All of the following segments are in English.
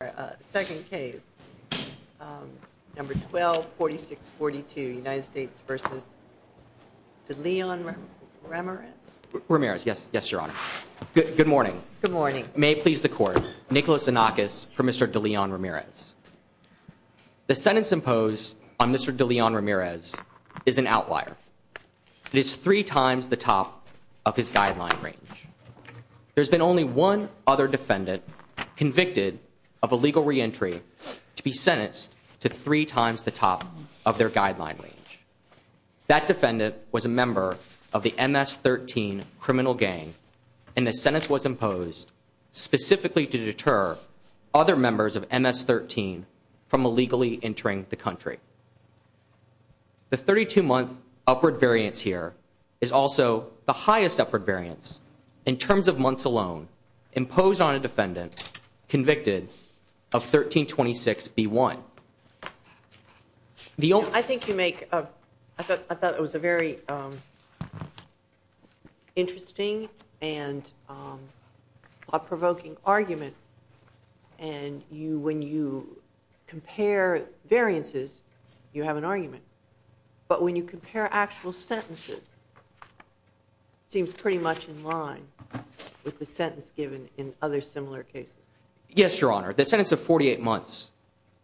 The second case, number 124642, United States v. Deleon-Ramirez? Ramirez, yes. Yes, Your Honor. Good morning. Good morning. May it please the Court, Nicholas Anakis for Mr. Deleon-Ramirez. The sentence imposed on Mr. Deleon-Ramirez is an outlier. It is three times the top of his guideline range. There's been only one other defendant convicted of illegal reentry to be sentenced to three times the top of their guideline range. That defendant was a member of the MS-13 criminal gang, and the sentence was imposed specifically to deter other members of MS-13 from illegally entering the country. The 32-month upward variance here is also the highest upward variance in terms of months alone imposed on a defendant convicted of 1326b1. I think you make, I thought it was a very interesting and a provoking argument. And when you compare variances, you have an argument. But when you compare actual sentences, it seems pretty much in line with the sentence given in other similar cases. Yes, Your Honor. The sentence of 48 months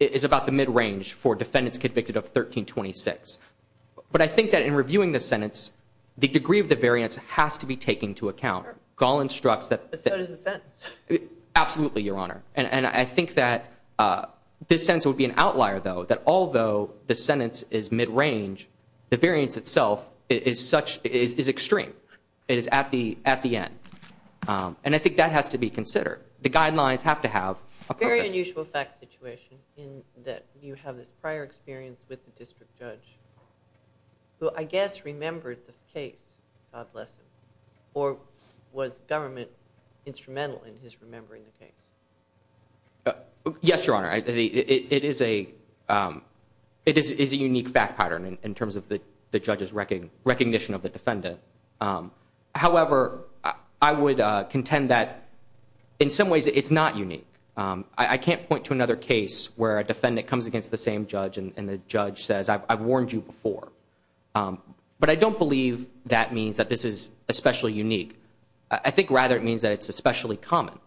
is about the mid-range for defendants convicted of 1326. But I think that in reviewing the sentence, the degree of the variance has to be taken into account. Gall instructs that... But so does the sentence. Absolutely, Your Honor. And I think that this sentence would be an outlier, though, that although the sentence is mid-range, the variance itself is extreme. It is at the end. And I think that has to be considered. The guidelines have to have a purpose. A very unusual fact situation in that you have this prior experience with the district judge, who I guess remembered the case, God bless him, or was government instrumental in his remembering the case? Yes, Your Honor. It is a unique fact pattern in terms of the judge's recognition of the defendant. However, I would contend that in some ways it's not unique. I can't point to another case where a defendant comes against the same judge and the judge says, I've warned you before. But I don't believe that means that this is especially unique. I think rather it means that it's especially common.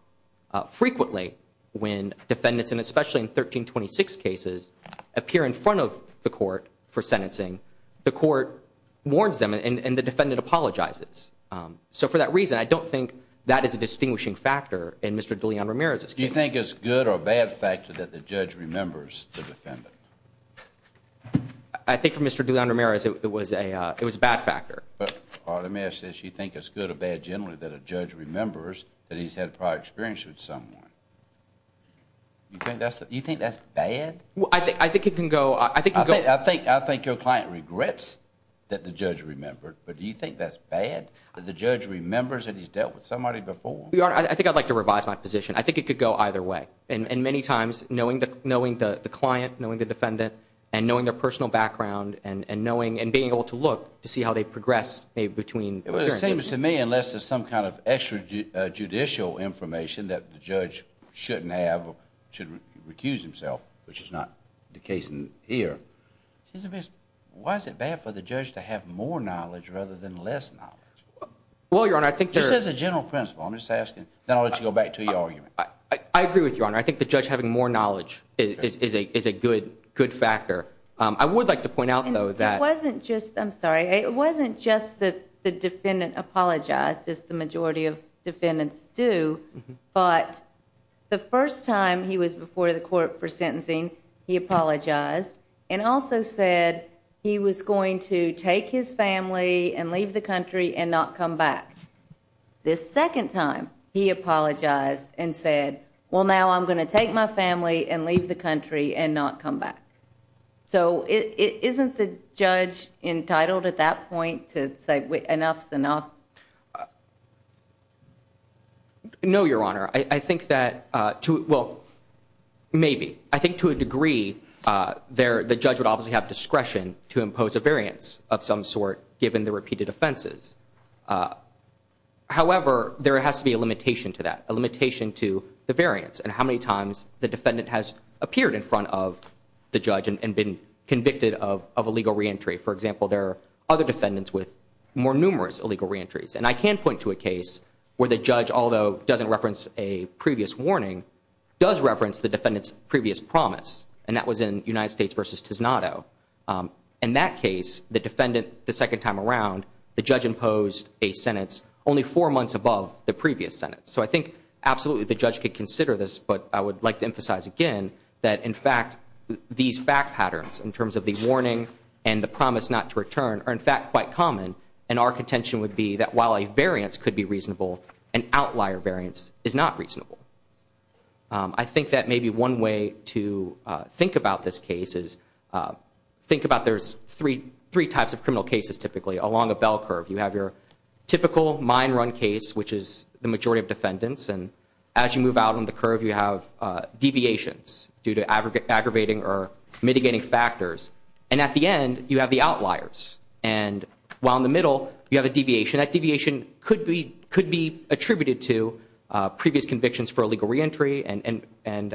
Frequently when defendants, and especially in 1326 cases, appear in front of the court for sentencing, the court warns them and the defendant apologizes. So for that reason, I don't think that is a distinguishing factor in Mr. DeLeon Romero's case. Do you think it's a good or bad factor that the judge remembers the defendant? I think for Mr. DeLeon Romero it was a bad factor. But the mayor says she thinks it's good or bad generally that a judge remembers that he's had prior experience with someone. You think that's bad? I think it can go. I think your client regrets that the judge remembered, but do you think that's bad? The judge remembers that he's dealt with somebody before. Your Honor, I think I'd like to revise my position. I think it could go either way. And many times knowing the client, knowing the defendant, and knowing their personal background and knowing and being able to look to see how they progress between appearances. It seems to me unless there's some kind of extrajudicial information that the judge shouldn't have or should recuse himself, which is not the case here, why is it bad for the judge to have more knowledge rather than less knowledge? Well, Your Honor, I think there's- Just as a general principle. I'm just asking. Then I'll let you go back to your argument. I agree with you, Your Honor. I think the judge having more knowledge is a good factor. I would like to point out, though, that- It wasn't just-I'm sorry. It wasn't just that the defendant apologized, as the majority of defendants do, but the first time he was before the court for sentencing, he apologized and also said he was going to take his family and leave the country and not come back. The second time he apologized and said, well, now I'm going to take my family and leave the country and not come back. So isn't the judge entitled at that point to say enough is enough? No, Your Honor. I think that-well, maybe. I think to a degree the judge would obviously have discretion to impose a variance of some sort given the repeated offenses. However, there has to be a limitation to that, a limitation to the variance and how many times the defendant has appeared in front of the judge and been convicted of illegal reentry. For example, there are other defendants with more numerous illegal reentries. And I can point to a case where the judge, although doesn't reference a previous warning, does reference the defendant's previous promise, and that was in United States v. Tisnado. In that case, the defendant the second time around, the judge imposed a sentence only four months above the previous sentence. So I think absolutely the judge could consider this, but I would like to emphasize again that in fact these fact patterns in terms of the warning and the promise not to return are in fact quite common, and our contention would be that while a variance could be reasonable, an outlier variance is not reasonable. I think that maybe one way to think about this case is think about there's three types of criminal cases typically along a bell curve. You have your typical mine run case, which is the majority of defendants, and as you move out on the curve you have deviations due to aggravating or mitigating factors. And at the end you have the outliers. And while in the middle you have a deviation, that deviation could be attributed to previous convictions for illegal reentry and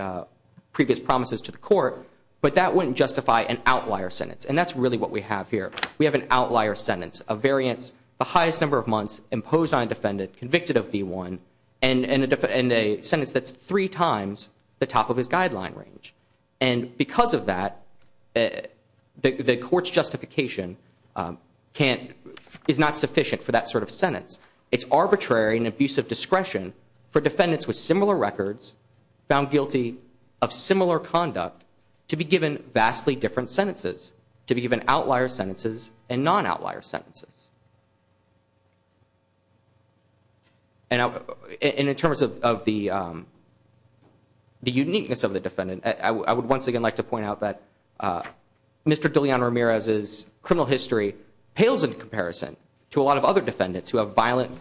previous promises to the court, but that wouldn't justify an outlier sentence. And that's really what we have here. We have an outlier sentence, a variance the highest number of months imposed on a defendant convicted of V1, and a sentence that's three times the top of his guideline range. And because of that, the court's justification is not sufficient for that sort of sentence. It's arbitrary and abusive discretion for defendants with similar records, found guilty of similar conduct, to be given vastly different sentences, to be given outlier sentences and non-outlier sentences. And in terms of the uniqueness of the defendant, I would once again like to point out that Mr. DeLeon Ramirez's criminal history pales in comparison to a lot of other defendants who have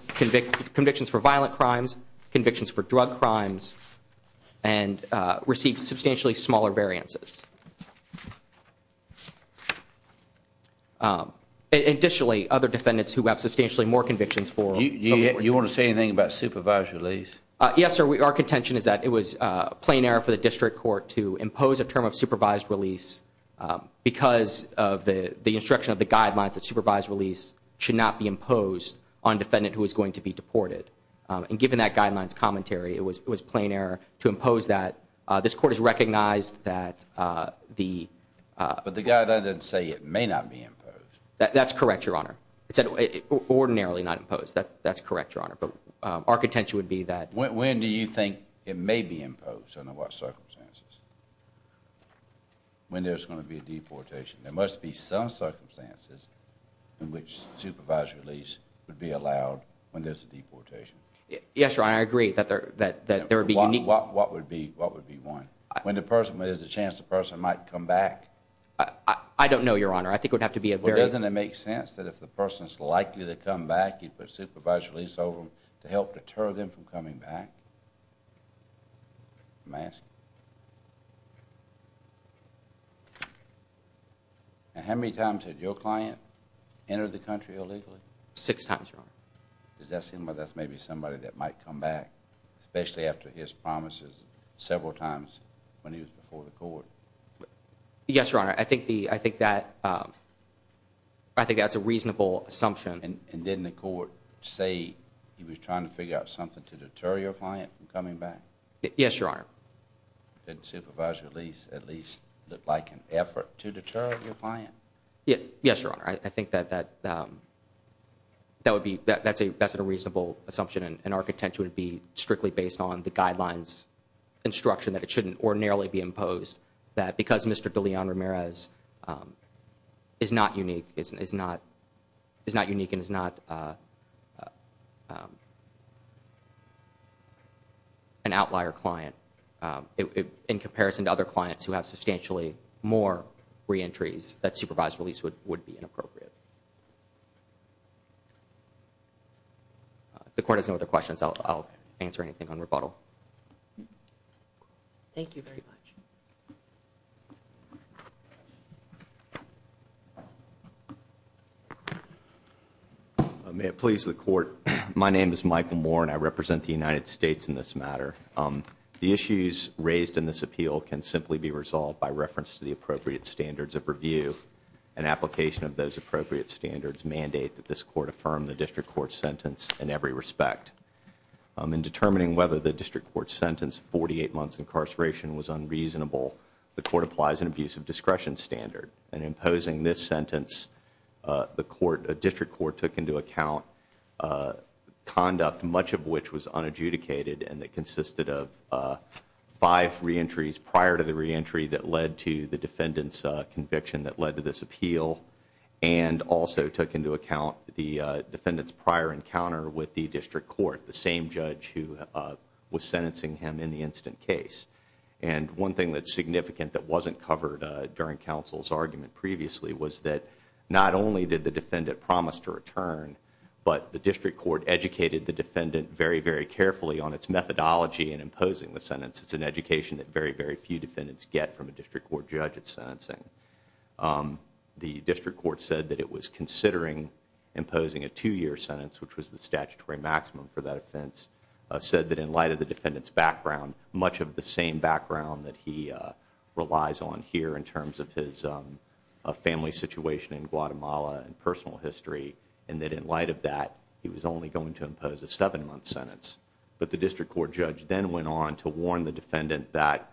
convictions for violent crimes, convictions for drug crimes, and receive substantially smaller variances. Additionally, other defendants who have substantially more convictions for... You want to say anything about supervised release? Yes, sir. Our contention is that it was plain error for the district court to impose a term of supervised release because of the instruction of the guidelines that supervised release should not be imposed on a defendant who is going to be deported. And given that guideline's commentary, it was plain error to impose that. This court has recognized that the... But the guideline doesn't say it may not be imposed. That's correct, Your Honor. It said ordinarily not imposed. That's correct, Your Honor. But our contention would be that... When do you think it may be imposed and under what circumstances? When there's going to be a deportation. There must be some circumstances in which supervised release would be allowed when there's a deportation. Yes, Your Honor. I agree that there would be unique... What would be one? When there's a chance the person might come back. I don't know, Your Honor. I think it would have to be a very... Well, doesn't it make sense that if the person's likely to come back, you'd put supervised release over them to help deter them from coming back? May I ask? And how many times had your client entered the country illegally? Six times, Your Honor. Does that seem like that's maybe somebody that might come back, especially after his promises several times when he was before the court? Yes, Your Honor. I think that's a reasonable assumption. And didn't the court say he was trying to figure out something to deter your client from coming back? Yes, Your Honor. Didn't supervised release at least look like an effort to deter your client? Yes, Your Honor. I think that that's a reasonable assumption, and our contention would be strictly based on the guidelines instruction that it shouldn't ordinarily be imposed, that because Mr. DeLeon-Ramirez is not unique and is not an outlier client, in comparison to other clients who have substantially more reentries, that supervised release would be inappropriate. If the court has no other questions, I'll answer anything on rebuttal. Thank you very much. May it please the Court. My name is Michael Moore, and I represent the United States in this matter. The issues raised in this appeal can simply be resolved by reference to the appropriate standards of review and application of those appropriate standards mandate that this court affirm the district court's sentence in every respect. In determining whether the district court's sentence, 48 months incarceration, was unreasonable, the court applies an abuse of discretion standard. In imposing this sentence, the district court took into account conduct, much of which was unadjudicated, and it consisted of five reentries prior to the reentry that led to the defendant's conviction that led to this appeal, and also took into account the defendant's prior encounter with the district court, the same judge who was sentencing him in the incident case. And one thing that's significant that wasn't covered during counsel's argument previously was that not only did the defendant promise to return, but the district court educated the defendant very, very carefully on its methodology in imposing the sentence. It's an education that very, very few defendants get from a district court judge at sentencing. The district court said that it was considering imposing a two-year sentence, which was the statutory maximum for that offense, said that in light of the defendant's background, much of the same background that he relies on here in terms of his family situation in Guatemala and personal history, and that in light of that he was only going to impose a seven-month sentence. But the district court judge then went on to warn the defendant that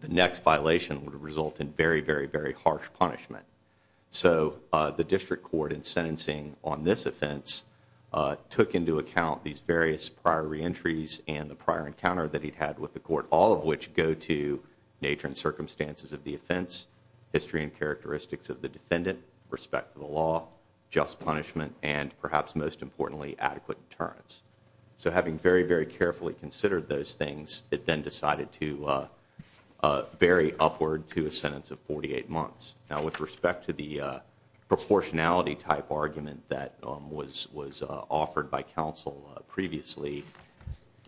the next violation would result in very, very, very harsh punishment. So the district court in sentencing on this offense took into account these various prior reentries and the prior encounter that he'd had with the court, all of which go to nature and circumstances of the offense, history and characteristics of the defendant, respect for the law, just punishment, and perhaps most importantly, adequate deterrence. So having very, very carefully considered those things, it then decided to vary upward to a sentence of 48 months. Now with respect to the proportionality type argument that was offered by counsel previously,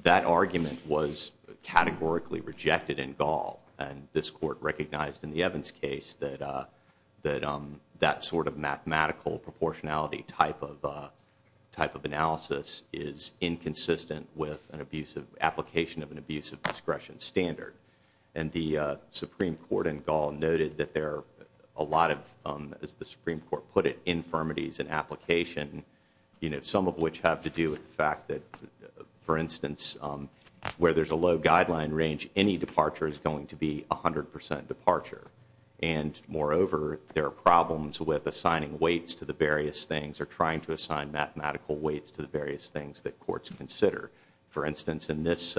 that argument was categorically rejected in Gall, and this court recognized in the Evans case that that sort of mathematical proportionality type of analysis is inconsistent with an abuse of application of an abuse of discretion standard. And the Supreme Court in Gall noted that there are a lot of, as the Supreme Court put it, infirmities in application, some of which have to do with the fact that, for instance, where there's a low guideline range, any departure is going to be 100 percent departure. And moreover, there are problems with assigning weights to the various things or trying to assign mathematical weights to the various things that courts consider. For instance, in this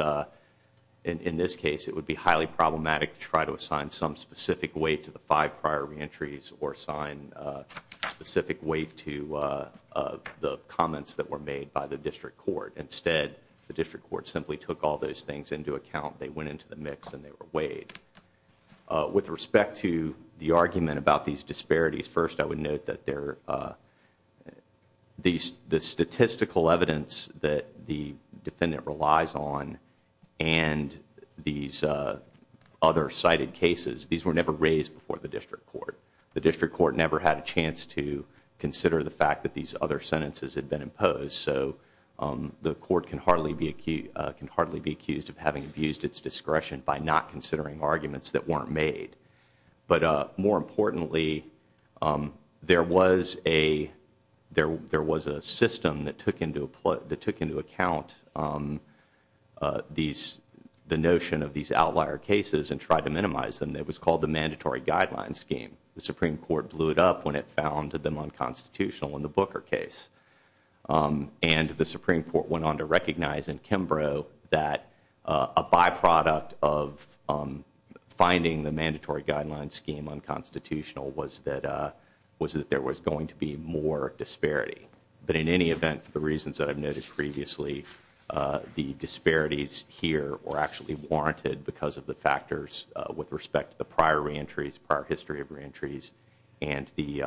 case, it would be highly problematic to try to assign some specific weight to the five prior reentries or assign specific weight to the comments that were made by the district court. Instead, the district court simply took all those things into account. They went into the mix and they were weighed. With respect to the argument about these disparities, first I would note that the statistical evidence that the defendant relies on and these other cited cases, these were never raised before the district court. The district court never had a chance to consider the fact that these other sentences had been imposed, so the court can hardly be accused of having abused its discretion by not considering arguments that weren't made. But more importantly, there was a system that took into account the notion of these outlier cases and tried to minimize them. It was called the Mandatory Guidelines Scheme. The Supreme Court blew it up when it found them unconstitutional in the Booker case. And the Supreme Court went on to recognize in Kimbrough that a byproduct of finding the Mandatory Guidelines Scheme unconstitutional was that there was going to be more disparity. But in any event, for the reasons that I've noted previously, the disparities here were actually warranted because of the factors with respect to the prior reentries, prior history of reentries, and the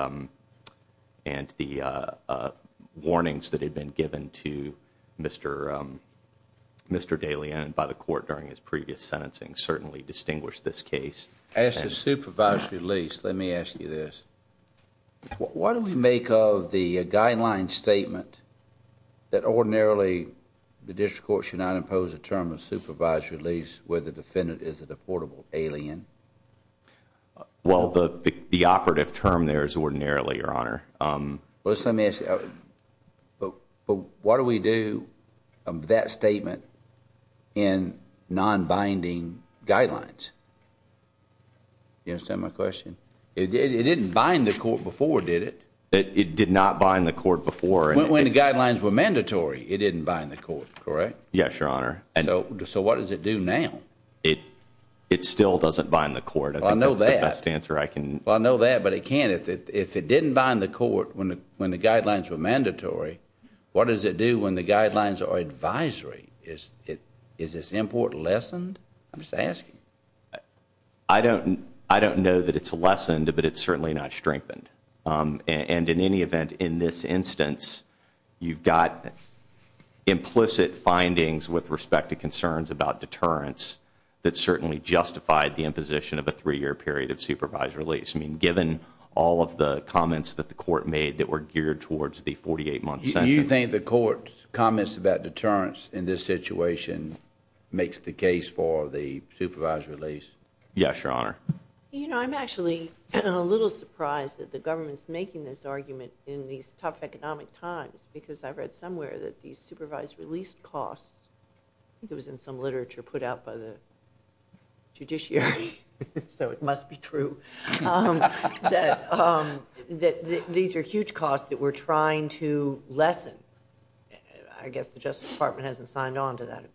warnings that had been given to Mr. Dalien by the court during his previous sentencing certainly distinguished this case. As to supervised release, let me ask you this. What do we make of the guideline statement that ordinarily the district court should not impose a term of supervised release where the defendant is a portable alien? Well, the operative term there is ordinarily, Your Honor. But what do we do of that statement in non-binding guidelines? Do you understand my question? It didn't bind the court before, did it? It did not bind the court before. When the guidelines were mandatory, it didn't bind the court, correct? Yes, Your Honor. So what does it do now? It still doesn't bind the court. Well, I know that. I think that's the best answer I can. Well, I know that, but it can't. If it didn't bind the court when the guidelines were mandatory, what does it do when the guidelines are advisory? Is this import lessened? I'm just asking. I don't know that it's lessened, but it's certainly not strengthened. And in any event, in this instance, you've got implicit findings with respect to concerns about deterrence that certainly justified the imposition of a three-year period of supervised release. I mean, given all of the comments that the court made that were geared towards the 48-month sentence. Do you think the court's comments about deterrence in this situation makes the case for the supervised release? Yes, Your Honor. You know, I'm actually a little surprised that the government's making this argument in these tough economic times, because I read somewhere that these supervised release costs, I think it was in some literature put out by the judiciary, so it must be true, that these are huge costs that we're trying to lessen. I guess the Justice Department hasn't signed on to that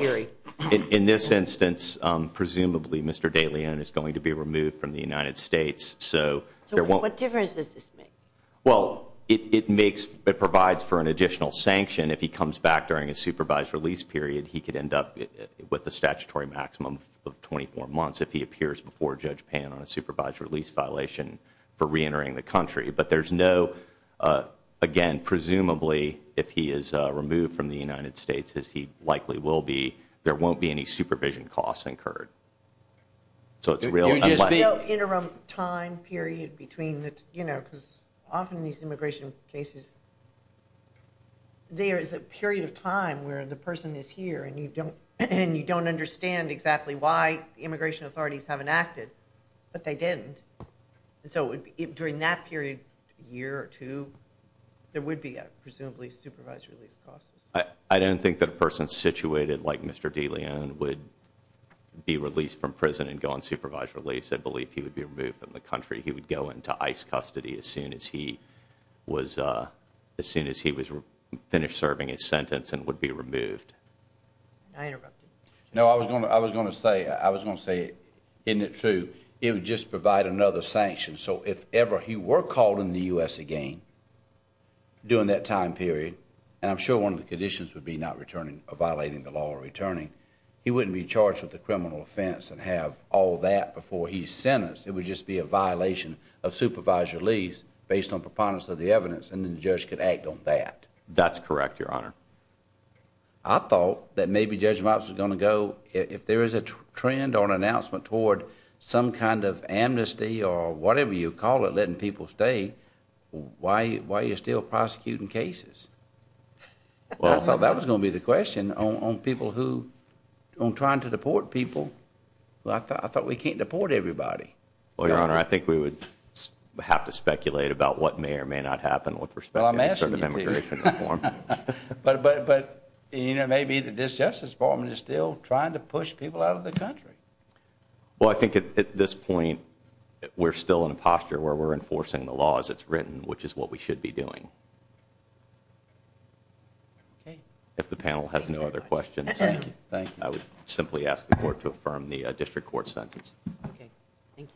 theory. Well, in this instance, presumably, Mr. De Leon is going to be removed from the United States. So what difference does this make? Well, it makes, it provides for an additional sanction. If he comes back during a supervised release period, he could end up with a statutory maximum of 24 months if he appears before Judge Pan on a supervised release violation for reentering the country. But there's no, again, presumably, if he is removed from the United States, as he likely will be, there won't be any supervision costs incurred. So it's real unlikely. There's no interim time period between the, you know, because often these immigration cases, there is a period of time where the person is here, and you don't understand exactly why the immigration authorities haven't acted, but they didn't. So during that period, a year or two, there would be a presumably supervised release cost. I don't think that a person situated like Mr. De Leon would be released from prison and go on supervised release. I believe he would be removed from the country. He would go into ICE custody as soon as he was, as soon as he was finished serving his sentence and would be removed. I interrupted. No, I was going to, I was going to say, I was going to say, isn't it true? It would just provide another sanction. So if ever he were called in the U.S. again, during that time period, and I'm sure one of the conditions would be not returning or violating the law or returning, he wouldn't be charged with a criminal offense and have all that before he's sentenced. It would just be a violation of supervised release based on preponderance of the evidence. And then the judge could act on that. That's correct, Your Honor. I thought that maybe Judge Mops was going to go, if there is a trend or an announcement toward some kind of amnesty or whatever you call it, letting people stay, why, why are you still prosecuting cases? I thought that was going to be the question on people who, on trying to deport people who I thought, I thought we can't deport everybody. Well, Your Honor, I think we would have to speculate about what may or may not happen with respect to immigration reform. But, but, but, you know, maybe the disjustice department is still trying to push people out of the country. Well, I think at this point, we're still in a posture where we're enforcing the law as it's written, which is what we should be doing. Okay. If the panel has no other questions, I would simply ask the court to affirm the district court sentence. Okay. Thank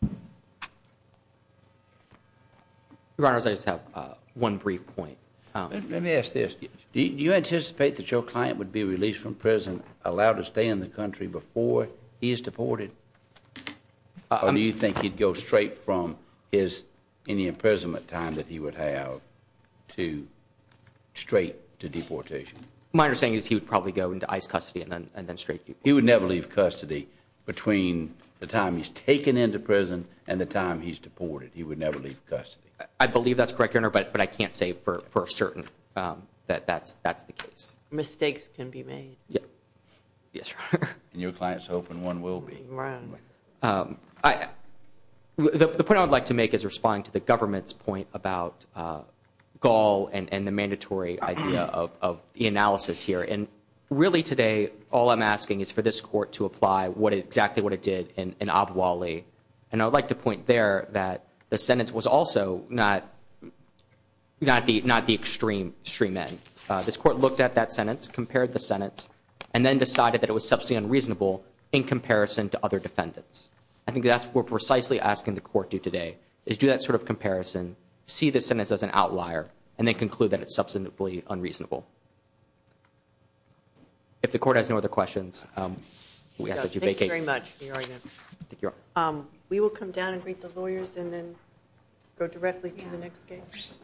you. Your Honor, I just have one brief point. Let me ask this. Do you anticipate that your client would be released from prison, allowed to stay in the country before he is deported? Or do you think he'd go straight from his, any imprisonment time that he would have to straight to deportation? My understanding is he would probably go into ICE custody and then, and then straight. He would never leave custody between the time he's taken into prison and the time he's deported. He would never leave custody. I believe that's correct, Your Honor. But I can't say for certain that that's, that's the case. Mistakes can be made. Yes, Your Honor. And your client's hoping one will be. The point I would like to make is responding to the government's point about Gaul and the mandatory idea of the analysis here. And really today, all I'm asking is for this court to apply exactly what it did in Abu Ali. And I would like to point there that the sentence was also not, not the extreme end. This court looked at that sentence, compared the sentence, and then decided that it was substantially unreasonable in comparison to other defendants. I think that's what we're precisely asking the court to do today is do that sort of comparison, see the sentence as an outlier and then conclude that it's substantively unreasonable. If the court has no other questions, we ask that you vacate. Thank you very much, Your Honor. We will come down and greet the lawyers and then go directly to the next case.